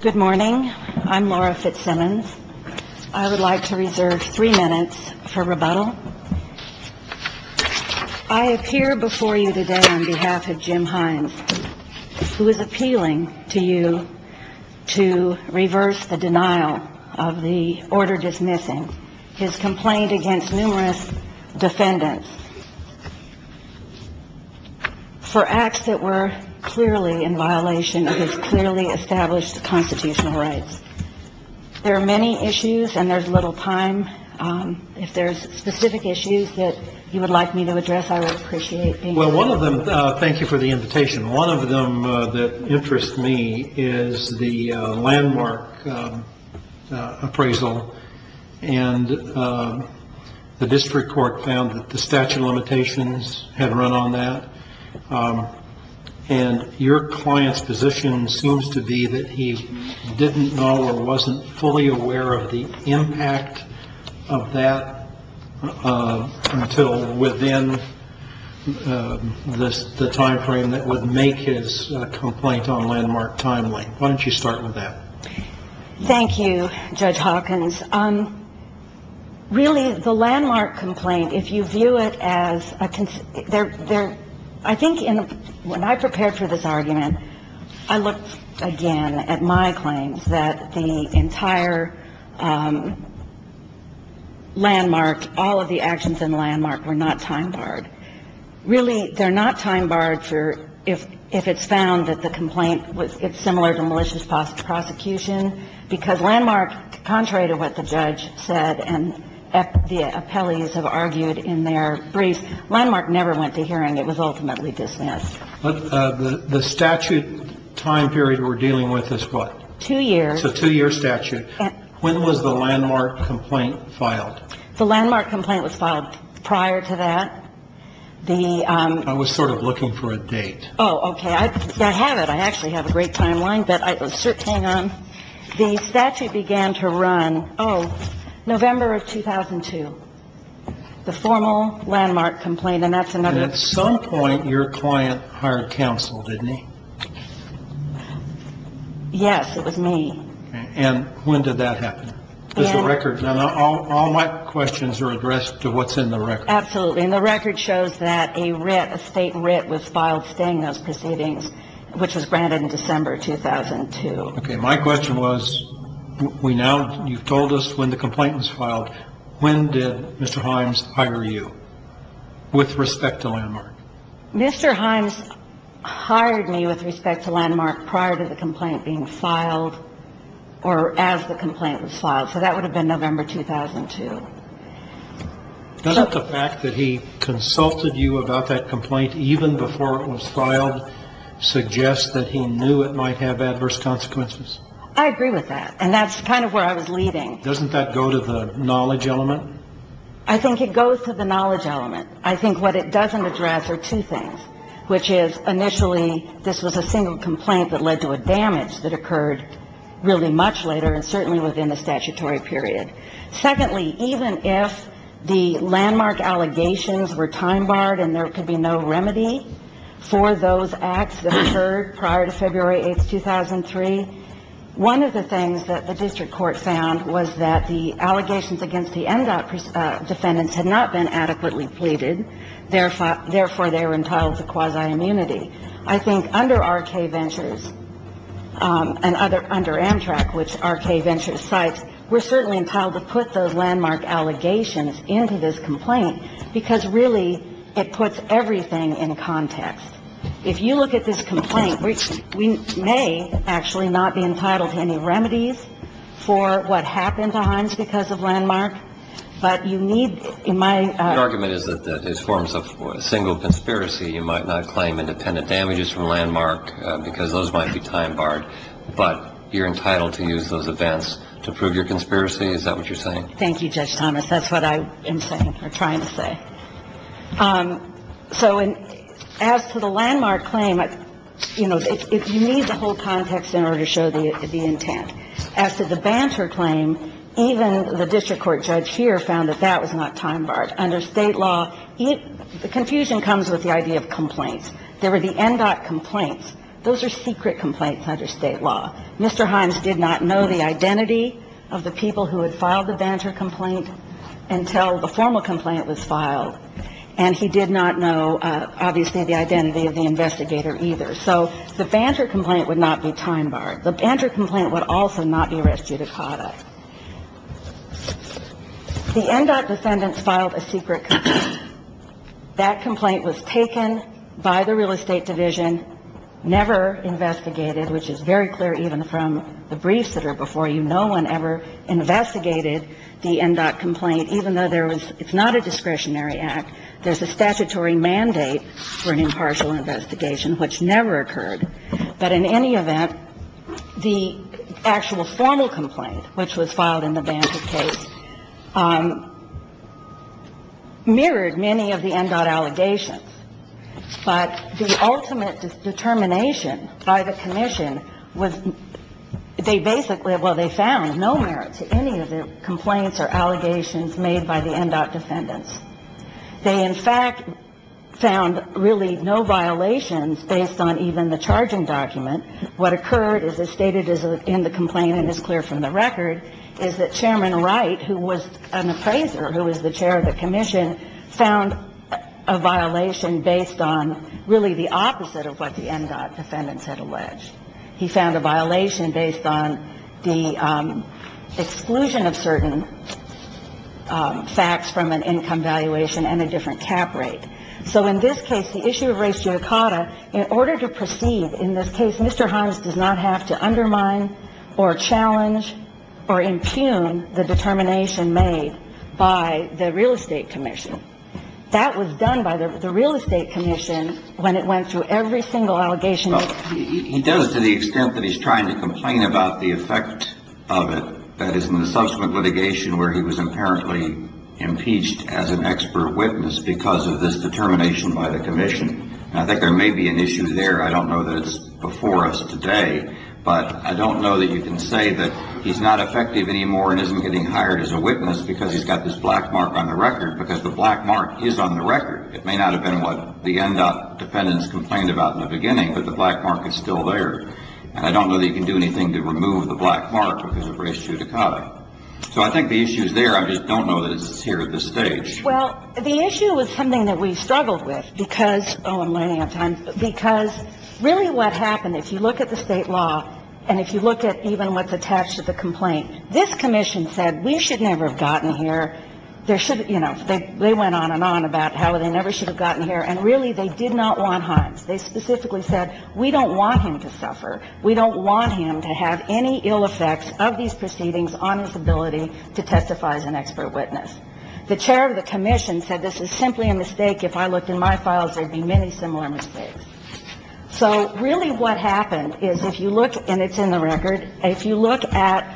Good morning. I'm Laura Fitzsimmons. I would like to reserve three minutes for rebuttal. I appear before you today on behalf of Jim Himes, who is appealing to you to reverse the denial of the order dismissing his complaint against numerous defendants for acts that were clearly in violation of his clearly established constitutional rights. There are many issues and there's little time. If there's specific issues that you would like me to address, I would appreciate. Well, one of them. Thank you for the invitation. One of them that interests me is the landmark appraisal. And the district court found that the statute of limitations had run on that. And your client's position seems to be that he didn't know or wasn't fully aware of the impact of that. Until within this, the time frame that would make his complaint on landmark timely. Why don't you start with that? Thank you, Judge Hawkins. Really, the landmark complaint, if you view it as there, I think when I prepared for this argument, I looked again at my claims that the entire landmark, all of the actions in landmark were not time barred. Really, they're not time barred for if it's found that the complaint was similar to malicious prosecution, because landmark, contrary to what the judge said and the appellees have argued in their brief, landmark never went to hearing. It was ultimately dismissed. The statute time period we're dealing with is what? Two years. It's a two-year statute. When was the landmark complaint filed? The landmark complaint was filed prior to that. I was sort of looking for a date. Oh, okay. I have it. I actually have a great timeline. But hang on. The statute began to run, oh, November of 2002, the formal landmark complaint. And at some point, your client hired counsel, didn't he? Yes, it was me. And when did that happen? Just a record. All my questions are addressed to what's in the record. Absolutely. And the record shows that a writ, a state writ was filed staying those proceedings, which was granted in December 2002. Okay. My question was, we now, you've told us when the complaint was filed. When did Mr. Himes hire you? With respect to landmark. Mr. Himes hired me with respect to landmark prior to the complaint being filed or as the complaint was filed. So that would have been November 2002. Doesn't the fact that he consulted you about that complaint even before it was filed suggest that he knew it might have adverse consequences? I agree with that. And that's kind of where I was leading. Doesn't that go to the knowledge element? I think it goes to the knowledge element. I think what it doesn't address are two things, which is, initially, this was a single complaint that led to a damage that occurred really much later and certainly within the statutory period. Secondly, even if the landmark allegations were time-barred and there could be no remedy for those acts that occurred prior to February 8, 2003, one of the things that the district court found was that the allegations against the MDOT defendants had not been adequately pleaded. Therefore, they were entitled to quasi-immunity. I think under R.K. Ventures and under Amtrak, which R.K. Ventures cites, we're certainly entitled to put those landmark allegations into this complaint because, really, it puts everything in context. If you look at this complaint, we may actually not be entitled to any remedies for what happened to Hines because of landmark. But you need, in my – Your argument is that it forms a single conspiracy. You might not claim independent damages from landmark because those might be time-barred. But you're entitled to use those events to prove your conspiracy. Is that what you're saying? Thank you, Judge Thomas. That's what I am trying to say. So as to the landmark claim, you know, you need the whole context in order to show the intent. As to the banter claim, even the district court judge here found that that was not time-barred. Under State law, the confusion comes with the idea of complaints. There were the MDOT complaints. Those are secret complaints under State law. Mr. Hines did not know the identity of the people who had filed the banter complaint until the formal complaint was filed. And he did not know, obviously, the identity of the investigator either. So the banter complaint would not be time-barred. The banter complaint would also not be res judicata. The MDOT defendants filed a secret complaint. That complaint was taken by the real estate division, never investigated, which is very clear even from the briefs that are before you. No one ever investigated the MDOT complaint, even though there was – it's not a discretionary act. There's a statutory mandate for an impartial investigation, which never occurred. But in any event, the actual formal complaint, which was filed in the banter case, mirrored many of the MDOT allegations. But the ultimate determination by the commission was – they basically – well, they found no merit to any of the complaints or allegations made by the MDOT defendants. They, in fact, found really no violations based on even the charging document. What occurred, as is stated in the complaint and is clear from the record, is that Chairman Wright, who was an appraiser, who was the chair of the commission, found a violation based on really the opposite of what the MDOT defendants had alleged. He found a violation based on the exclusion of certain facts from an income valuation and a different cap rate. So in this case, the issue of ratio cotta, in order to proceed in this case, Mr. Himes does not have to undermine or challenge or impugn the determination made by the real estate commission. That was done by the real estate commission when it went through every single allegation. Well, he does to the extent that he's trying to complain about the effect of it, that is, in the subsequent litigation where he was apparently impeached as an expert witness because of this determination by the commission. And I think there may be an issue there. I don't know that it's before us today. But I don't know that you can say that he's not effective anymore and isn't getting hired as a witness because he's got this black mark on the record, because the black mark is on the record. It may not have been what the MDOT defendants complained about in the beginning, but the black mark is still there. And I don't know that you can do anything to remove the black mark because of ratio cotta. So I think the issue is there. I just don't know that it's here at this stage. Well, the issue is something that we struggled with because – oh, I'm running out of time – because really what happened, if you look at the State law and if you look at even what's attached to the complaint, this commission said we should never have gotten here. There should – you know, they went on and on about how they never should have gotten here. And really, they did not want Hines. They specifically said we don't want him to suffer. We don't want him to have any ill effects of these proceedings on his ability to testify as an expert witness. The chair of the commission said this is simply a mistake. If I looked in my files, there would be many similar mistakes. So really what happened is if you look – and it's in the record – if you look at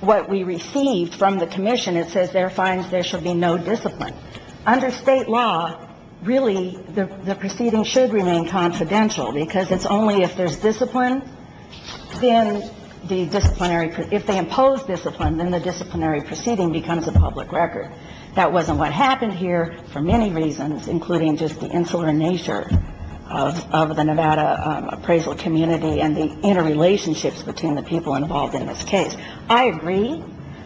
what we received from the commission, it says there are fines. There should be no discipline. Under State law, really, the proceedings should remain confidential because it's only if there's discipline, then the disciplinary – if they impose discipline, then the disciplinary proceeding becomes a public record. That wasn't what happened here for many reasons, including just the insular nature of the Nevada appraisal community and the interrelationships between the people involved in this case. I agree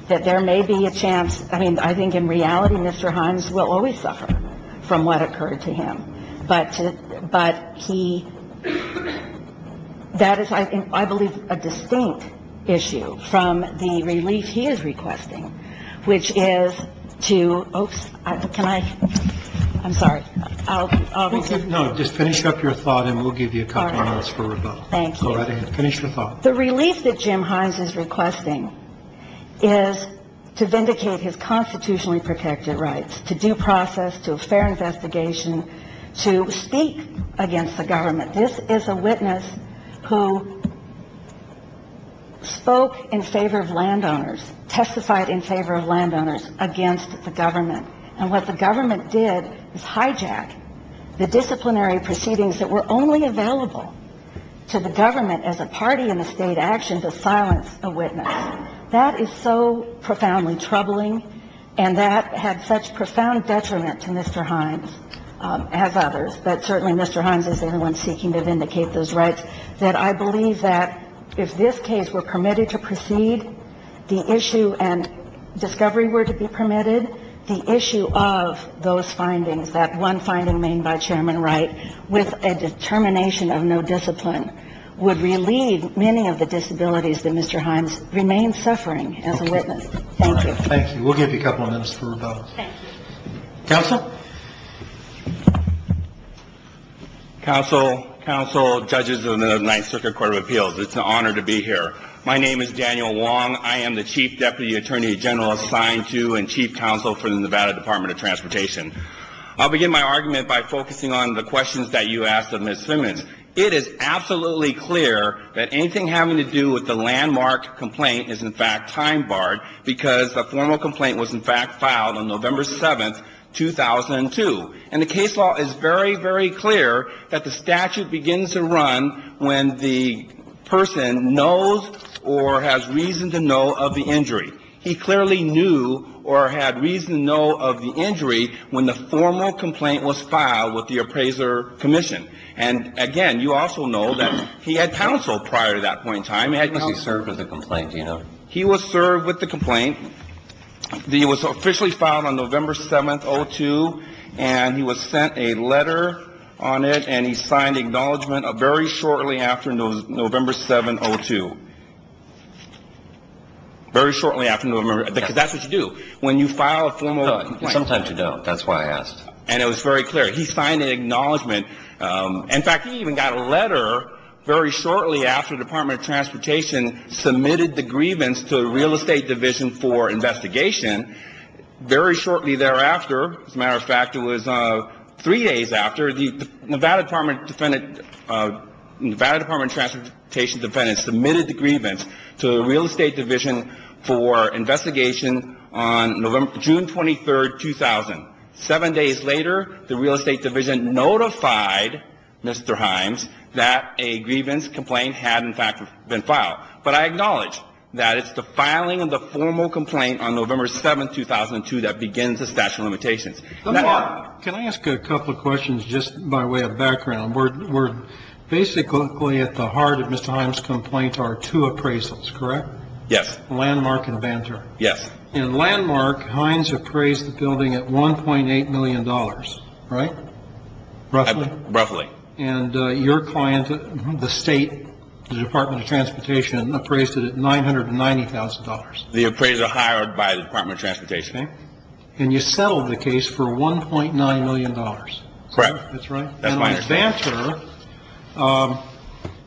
that there may be a chance – I mean, I think in reality, Mr. Hines will always suffer from what occurred to him. But he – that is, I believe, a distinct issue from the relief he is requesting, which is to – oops. Can I – I'm sorry. I'll repeat. No. Just finish up your thought, and we'll give you a couple of minutes for rebuttal. Thank you. Go right ahead. Finish your thought. The relief that Jim Hines is requesting is to vindicate his constitutionally protected rights, to due process, to a fair investigation, to speak against the government. This is a witness who spoke in favor of landowners, testified in favor of landowners against the government. And what the government did is hijack the disciplinary proceedings that were only available to the government as a party in the state action to silence a witness. That is so profoundly troubling, and that had such profound detriment to Mr. Hines, as others, but certainly Mr. Hines is the only one seeking to vindicate those rights, that I believe that if this case were permitted to proceed, the issue and discovery were to be permitted, the issue of those findings, that one finding made by Chairman Wright with a determination of no discipline, would relieve many of the disabilities that Mr. Hines remains suffering as a witness. Thank you. All right. Thank you. We'll give you a couple of minutes for rebuttal. Thank you. Counsel? Counsel, counsel, judges of the Ninth Circuit Court of Appeals, it's an honor to be here. My name is Daniel Wong. I am the Chief Deputy Attorney General assigned to and Chief Counsel for the Nevada Department of Transportation. I'll begin my argument by focusing on the questions that you asked of Ms. Simmons. It is absolutely clear that anything having to do with the landmark complaint is, in fact, time barred, because the formal complaint was, in fact, filed on November 7, 2002. And the case law is very, very clear that the statute begins to run when the person knows or has reason to know of the injury. He clearly knew or had reason to know of the injury when the formal complaint was filed with the appraiser commission. And, again, you also know that he had counsel prior to that point in time. He served with the complaint. Do you know? He was served with the complaint. It was officially filed on November 7, 2002, and he was sent a letter on it, and he signed acknowledgment very shortly after November 7, 2002. Very shortly after November. Because that's what you do when you file a formal complaint. Sometimes you don't. That's why I asked. And it was very clear. He signed an acknowledgment. In fact, he even got a letter very shortly after the Department of Transportation submitted the grievance to the Real Estate Division for investigation. Very shortly thereafter, as a matter of fact, it was three days after, the Nevada Department of Transportation defendant submitted the grievance to the Real Estate Division for investigation on June 23, 2000. Seven days later, the Real Estate Division notified Mr. Hines that a grievance complaint had, in fact, been filed. But I acknowledge that it's the filing of the formal complaint on November 7, 2002, that begins the statute of limitations. Mark, can I ask a couple of questions just by way of background? We're basically at the heart of Mr. Hines' complaint are two appraisals, correct? Yes. Landmark and Banter. Yes. In Landmark, Hines appraised the building at $1.8 million, right? Roughly. Roughly. And your client, the State, the Department of Transportation, appraised it at $990,000. The appraiser hired by the Department of Transportation. Okay. And you settled the case for $1.9 million. Correct. That's right. That's my understanding. And on Banter,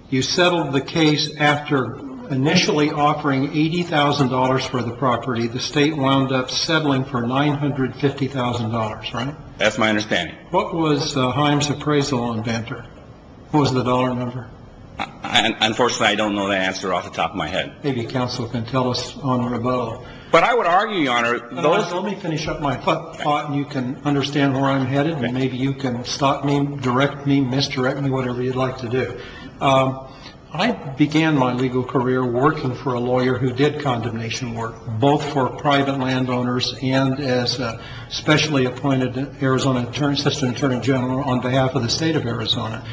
you settled the case after initially offering $80,000 for the property. The State wound up settling for $950,000, right? That's my understanding. What was Hines' appraisal on Banter? What was the dollar number? Unfortunately, I don't know the answer off the top of my head. Maybe counsel can tell us on or above. But I would argue, Your Honor, those Let me finish up my thought and you can understand where I'm headed and maybe you can stop me, direct me, misdirect me, whatever you'd like to do. I began my legal career working for a lawyer who did condemnation work, both for private landowners and as a specially appointed Arizona Assistant Attorney General on behalf of the State of Arizona.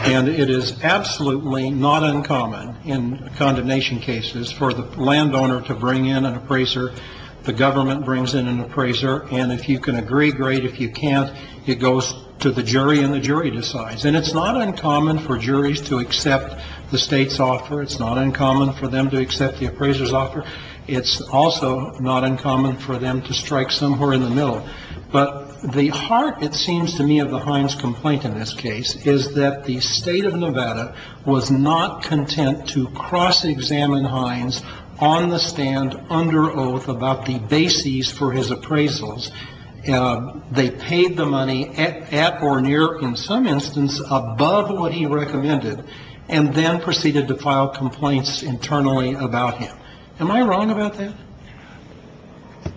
And it is absolutely not uncommon in condemnation cases for the landowner to bring in an appraiser. The government brings in an appraiser. And if you can agree, great. If you can't, it goes to the jury and the jury decides. And it's not uncommon for juries to accept the State's offer. It's not uncommon for them to accept the appraiser's offer. It's also not uncommon for them to strike somewhere in the middle. But the heart, it seems to me, of the Hines complaint in this case is that the State of Nevada was not content to cross-examine Hines on the stand under oath about the bases for his appraisals. They paid the money at or near, in some instance, above what he recommended and then proceeded to file complaints internally about him. Am I wrong about that?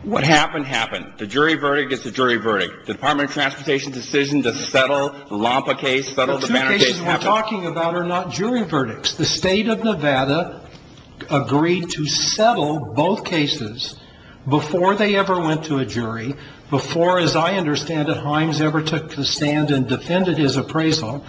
What happened, happened. The jury verdict is the jury verdict. The Department of Transportation's decision to settle the Lampa case, settle the Banner case, happened. What I'm talking about are not jury verdicts. The State of Nevada agreed to settle both cases before they ever went to a jury, before, as I understand it, Hines ever took the stand and defended his appraisal,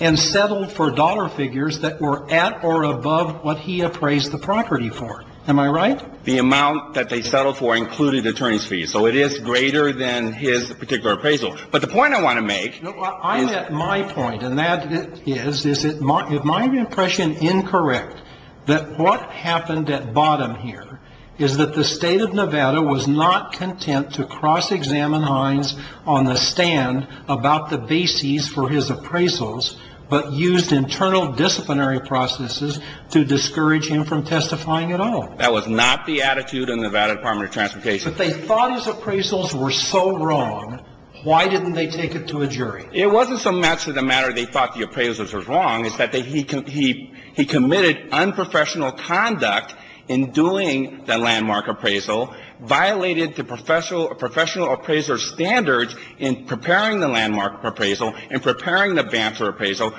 and settled for dollar figures that were at or above what he appraised the property for. Am I right? The amount that they settled for included attorney's fees. So it is greater than his particular appraisal. I'm at my point, and that is, is it my impression incorrect that what happened at bottom here is that the State of Nevada was not content to cross-examine Hines on the stand about the bases for his appraisals, but used internal disciplinary processes to discourage him from testifying at all. That was not the attitude in the Nevada Department of Transportation. If they thought his appraisals were so wrong, why didn't they take it to a jury? It wasn't so much of the matter they thought the appraisals were wrong. It's that he committed unprofessional conduct in doing the landmark appraisal, violated the professional appraiser's standards in preparing the landmark appraisal, in preparing the Banner appraisal.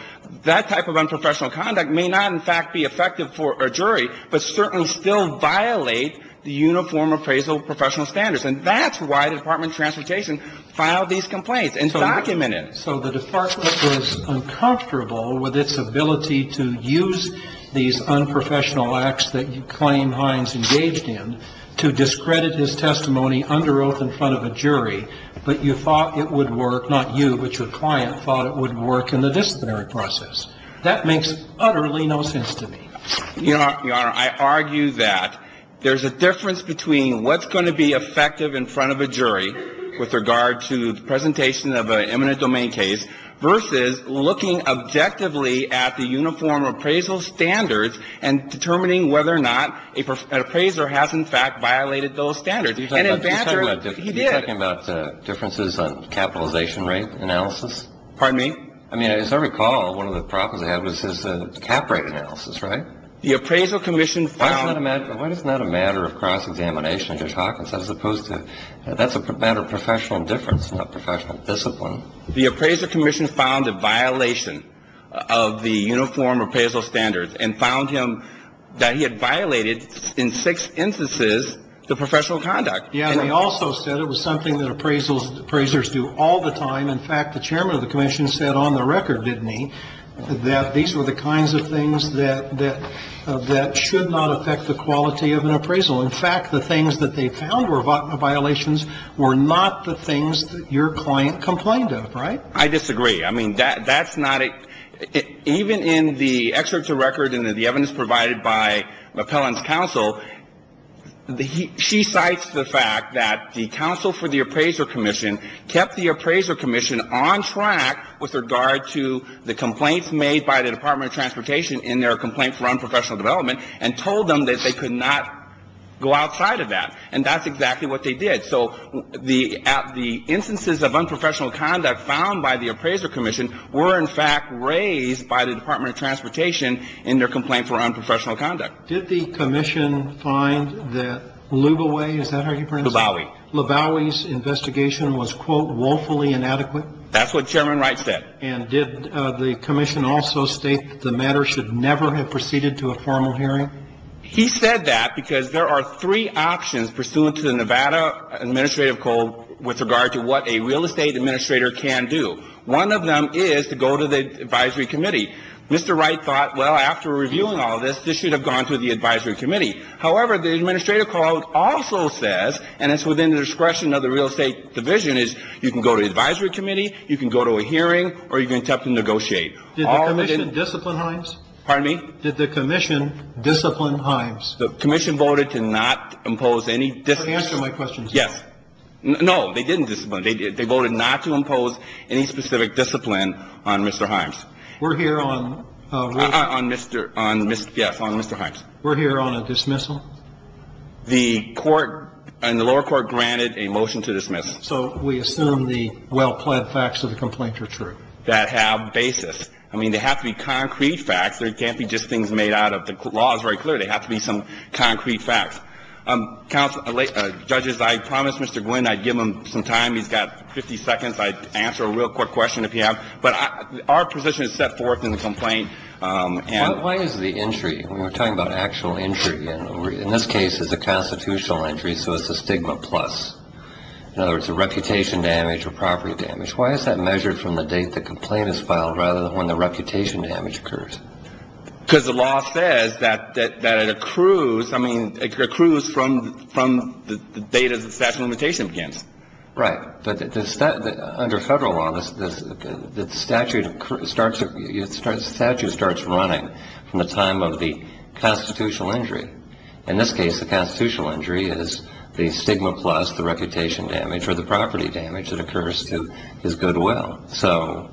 That type of unprofessional conduct may not, in fact, be effective for a jury, but certainly still violate the uniform appraisal professional standards. And that's why the Department of Transportation filed these complaints and documented it. So the department was uncomfortable with its ability to use these unprofessional acts that you claim Hines engaged in to discredit his testimony under oath in front of a jury, but you thought it would work, not you, but your client thought it would work in the disciplinary process. That makes utterly no sense to me. Your Honor, I argue that there's a difference between what's going to be effective in front of a jury with regard to the presentation of an eminent domain case versus looking objectively at the uniform appraisal standards and determining whether or not an appraiser has, in fact, violated those standards. And in Banter, he did. You're talking about differences on capitalization rate analysis? Pardon me? I mean, as I recall, one of the problems they had was his cap rate analysis, right? The appraisal commission found – Why isn't that a matter of cross-examination? You're talking as opposed to – that's a matter of professional difference, not professional discipline. The appraiser commission found a violation of the uniform appraisal standards and found him – that he had violated, in six instances, the professional conduct. Yeah, and they also said it was something that appraisers do all the time. In fact, the chairman of the commission said on the record, didn't he, that these were the kinds of things that should not affect the quality of an appraisal. In fact, the things that they found were violations were not the things that your client complained of, right? I disagree. I mean, that's not – even in the excerpts of record and the evidence provided by the appellant's counsel, she cites the fact that the counsel for the appraiser commission kept the appraiser commission on track with regard to the complaints made by the Department of Transportation in their complaint for unprofessional development and told them that they could not go outside of that. And that's exactly what they did. So the instances of unprofessional conduct found by the appraiser commission were, in fact, raised by the Department of Transportation in their complaint for unprofessional conduct. Did the commission find that Luboway – is that how you pronounce it? Lubowy. Luboway's investigation was, quote, woefully inadequate. That's what Chairman Wright said. And did the commission also state that the matter should never have proceeded to a formal hearing? He said that because there are three options pursuant to the Nevada Administrative Code with regard to what a real estate administrator can do. One of them is to go to the advisory committee. Mr. Wright thought, well, after reviewing all this, this should have gone to the advisory committee. However, the Administrative Code also says, and it's within the discretion of the real estate division, is you can go to the advisory committee, you can go to a hearing, or you can attempt to negotiate. Did the commission discipline Himes? Pardon me? Did the commission discipline Himes? The commission voted to not impose any discipline. Answer my question. Yes. No, they didn't discipline him. They voted not to impose any specific discipline on Mr. Himes. We're here on – On Mr. – yes, on Mr. Himes. We're here on a dismissal. The court and the lower court granted a motion to dismiss. So we assume the well-pled facts of the complaint are true. That have basis. I mean, they have to be concrete facts. They can't be just things made out of – the law is very clear. They have to be some concrete facts. Judges, I promised Mr. Gwinn I'd give him some time. He's got 50 seconds. I'd answer a real quick question if he has. But our position is set forth in the complaint. Why is the entry – we're talking about actual entry. In this case, it's a constitutional entry, so it's a stigma plus. In other words, a reputation damage or property damage. Why is that measured from the date the complaint is filed rather than when the reputation damage occurs? Because the law says that it accrues – I mean, it accrues from the date the statute of limitation begins. Right. But under federal law, the statute starts running from the time of the constitutional entry. In this case, the constitutional entry is the stigma plus, the reputation damage, or the property damage that occurs to his goodwill. So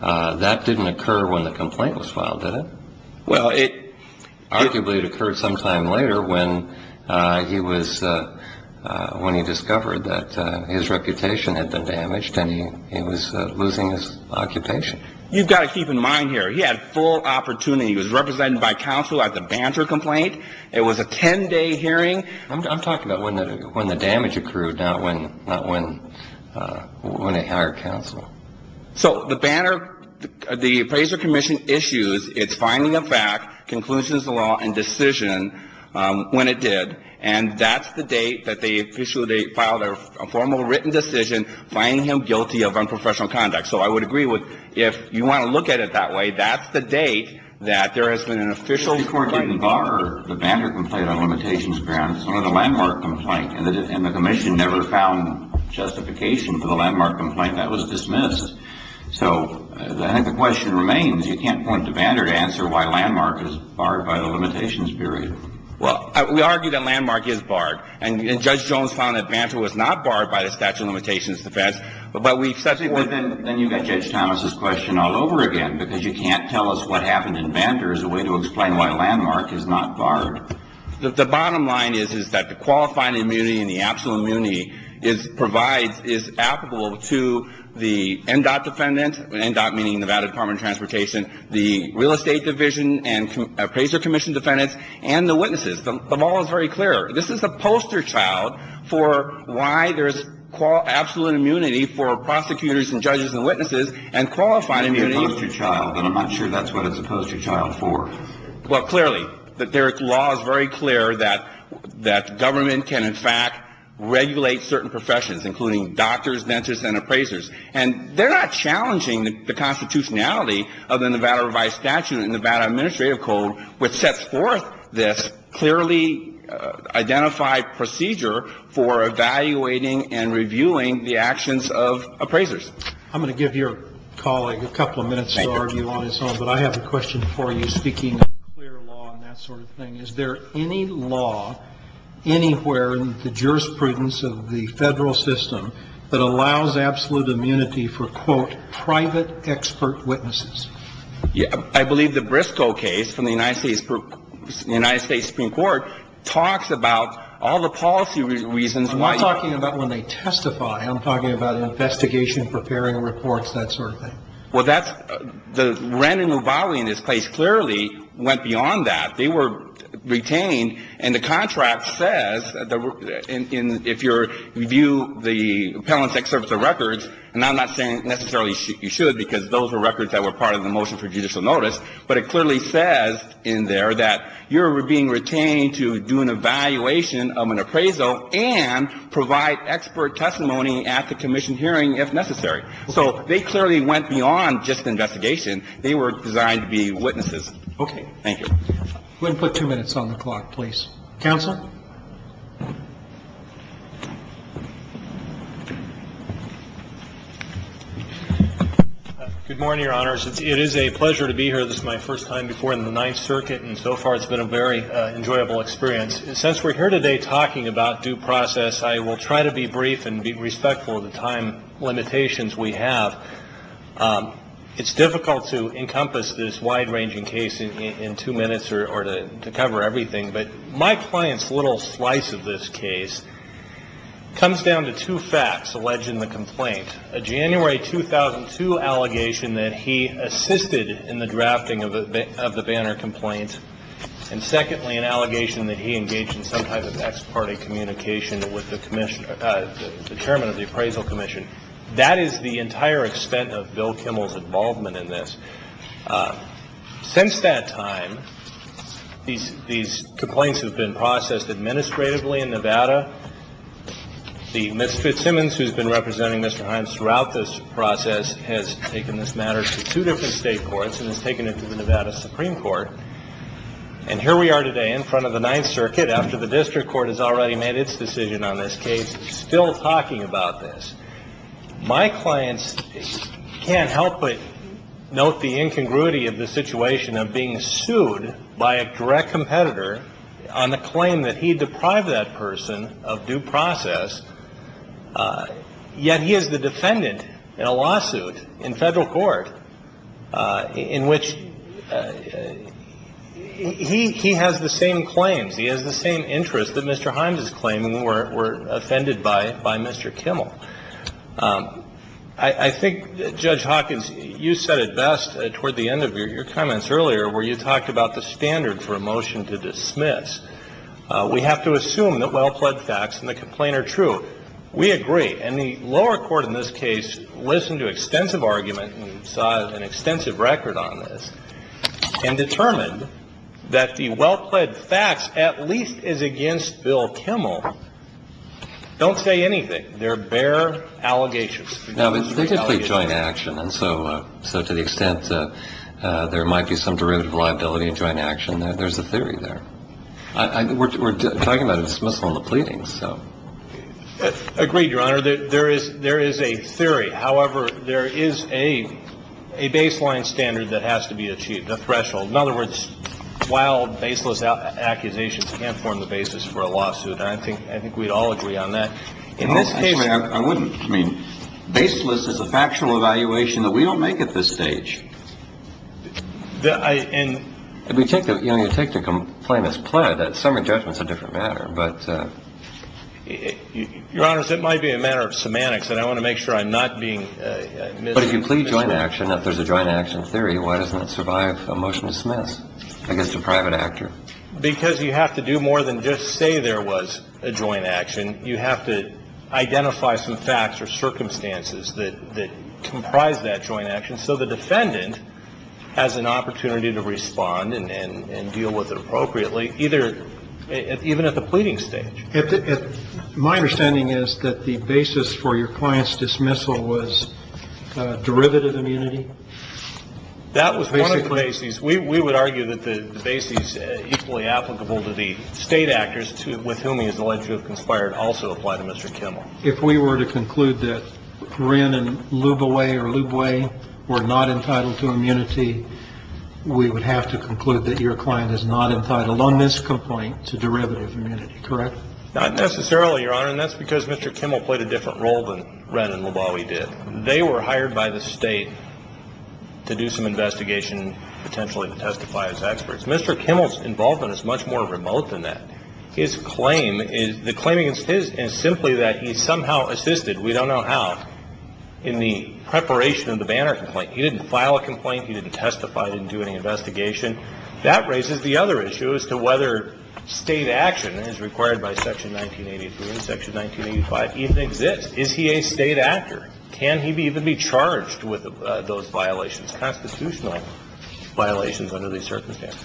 that didn't occur when the complaint was filed, did it? Well, it – Arguably, it occurred sometime later when he was – when he discovered that his reputation had been damaged and he was losing his occupation. You've got to keep in mind here, he had full opportunity. He was represented by counsel at the Banner complaint. It was a 10-day hearing. I'm talking about when the damage accrued, not when – not when – when they hired counsel. So the Banner – the appraiser commission issues its finding of fact, conclusions of the law, and decision when it did. And that's the date that they officially – they filed a formal written decision finding him guilty of unprofessional conduct. So I would agree with – if you want to look at it that way, that's the date that there has been an official complaint. I think the question remains, you can't point to Banner to answer why Landmark is barred by the limitations period. Well, we argue that Landmark is barred. And Judge Jones found that Banner was not barred by the statute of limitations defense. But we've said – But then you've got Judge Thomas's question all over again, because you can't tell us what happened in Banner as a way to explain why Landmark is barred. The bottom line is, is that the qualifying immunity and the absolute immunity is – provides – is applicable to the NDOT defendant, NDOT meaning Nevada Department of Transportation, the real estate division and appraiser commission defendants, and the witnesses. The law is very clear. This is a poster child for why there's absolute immunity for prosecutors and judges and witnesses, and qualifying immunity – It could be a poster child, but I'm not sure that's what it's a poster child for. Well, clearly, their law is very clear that government can, in fact, regulate certain professions, including doctors, dentists, and appraisers. And they're not challenging the constitutionality of the Nevada Revised Statute and Nevada Administrative Code, which sets forth this clearly identified procedure for evaluating and reviewing the actions of appraisers. I'm going to give your colleague a couple of minutes to argue on his own, but I have a question for you, speaking of clear law and that sort of thing. Is there any law anywhere in the jurisprudence of the Federal system that allows absolute immunity for, quote, private expert witnesses? I believe the Briscoe case from the United States Supreme Court talks about all the policy reasons why – I'm talking about investigation, preparing reports, that sort of thing. Well, that's – the Wren and Nuvali in this case clearly went beyond that. They were retained, and the contract says that if you review the Appellant's Excerpt of Records – and I'm not saying necessarily you should, because those are records that were part of the motion for judicial notice – but it clearly says in there that you're being retained to do an evaluation of an appraisal and provide expert testimony at the commission hearing if necessary. So they clearly went beyond just investigation. They were designed to be witnesses. Okay. Thank you. I'm going to put two minutes on the clock, please. Counsel? Good morning, Your Honors. It is a pleasure to be here. This is my first time before in the Ninth Circuit, and so far it's been a very enjoyable experience. Since we're here today talking about due process, I will try to be brief and be respectful of the time limitations we have. It's difficult to encompass this wide-ranging case in two minutes or to cover everything, but my client's little slice of this case comes down to two facts alleging the complaint – a January 2002 allegation that he assisted in the drafting of the Banner complaint, and secondly an allegation that he engaged in some type of ex parte communication with the chairman of the appraisal commission. That is the entire extent of Bill Kimmel's involvement in this. Since that time, these complaints have been processed administratively in Nevada. Ms. Fitzsimmons, who has been representing Mr. Himes throughout this process, has taken this matter to two different state courts and has taken it to the Nevada Supreme Court, and here we are today in front of the Ninth Circuit after the district court has already made its decision on this case, still talking about this. My client can't help but note the incongruity of the situation of being sued by a direct competitor on the claim that he deprived that person of due process, yet he is the defendant in a lawsuit in Federal court in which he has the same claims, he has the same interests that Mr. Himes is claiming were offended by Mr. Kimmel. I think, Judge Hawkins, you said it best toward the end of your comments earlier where you talked about the standard for a motion to dismiss. We have to assume that well-pledged facts in the complaint are true. We agree. And the lower court in this case listened to extensive argument and saw an extensive record on this and determined that the well-pledged facts at least is against Bill Kimmel. Don't say anything. They're bare allegations. No, but they did play joint action. And so to the extent there might be some derivative liability in joint action, there's a theory there. We're talking about dismissal of the pleadings. Agreed, Your Honor. There is a theory. However, there is a baseline standard that has to be achieved, a threshold. In other words, while baseless accusations can form the basis for a lawsuit, I think we'd all agree on that. Actually, I wouldn't. Baseless is a factual evaluation that we don't make at this stage. And we take the complaint as pled that summary judgment is a different matter. But, Your Honor, it might be a matter of semantics, and I want to make sure I'm not being misled. But if you plead joint action, if there's a joint action theory, why doesn't it survive a motion to dismiss against a private actor? Because you have to do more than just say there was a joint action. You have to identify some facts or circumstances that comprise that joint action. And so the defendant has an opportunity to respond and deal with it appropriately, even at the pleading stage. My understanding is that the basis for your client's dismissal was derivative immunity? That was one of the bases. We would argue that the basis equally applicable to the state actors with whom he is alleged to have conspired also apply to Mr. Kimmel. If we were to conclude that Wren and Luboway or Lubway were not entitled to immunity, we would have to conclude that your client is not entitled on this complaint to derivative immunity, correct? Not necessarily, Your Honor. And that's because Mr. Kimmel played a different role than Wren and Luboway did. They were hired by the state to do some investigation, potentially to testify as experts. Mr. Kimmel's involvement is much more remote than that. His claim is the claim against his is simply that he somehow assisted, we don't know how, in the preparation of the Banner complaint. He didn't file a complaint. He didn't testify. He didn't do any investigation. That raises the other issue as to whether state action as required by Section 1983 and Section 1985 even exists. Is he a state actor? Can he even be charged with those violations, constitutional violations under these circumstances?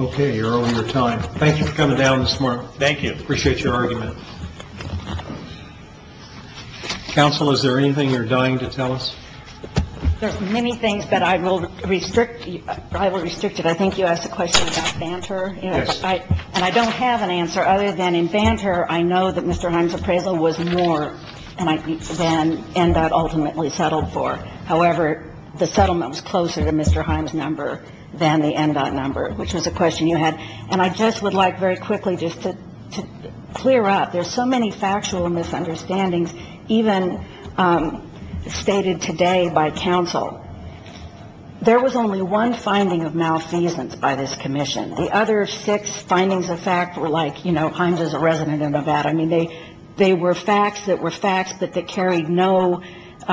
Okay. You're over your time. Thank you for coming down this morning. Thank you. Appreciate your argument. Counsel, is there anything you're dying to tell us? There are many things that I will restrict you to. I will restrict it. I think you asked a question about Banter. Yes. And I don't have an answer. Other than in Banter, I know that Mr. Himes' appraisal was more than ENDOT ultimately settled for. However, the settlement was closer to Mr. Himes' number than the ENDOT number, which was a question you had. And I just would like very quickly just to clear up, there's so many factual misunderstandings even stated today by counsel. There was only one finding of malfeasance by this commission. The other six findings of fact were like, you know, Himes is a resident of Nevada. I mean, they were facts that were facts, but that carried no –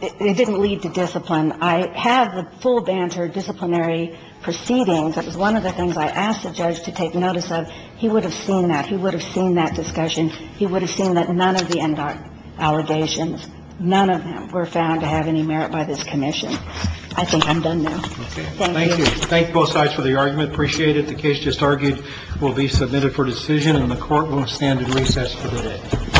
it didn't lead to discipline. I had the full Banter disciplinary proceedings. That was one of the things I asked the judge to take notice of. He would have seen that. He would have seen that discussion. He would have seen that none of the ENDOT allegations, none of them were found to have any merit by this commission. I think I'm done now. Thank you. Thank you. Thank you both sides for the argument. Appreciate it. The case just argued will be submitted for decision, and the Court will stand at recess for the day.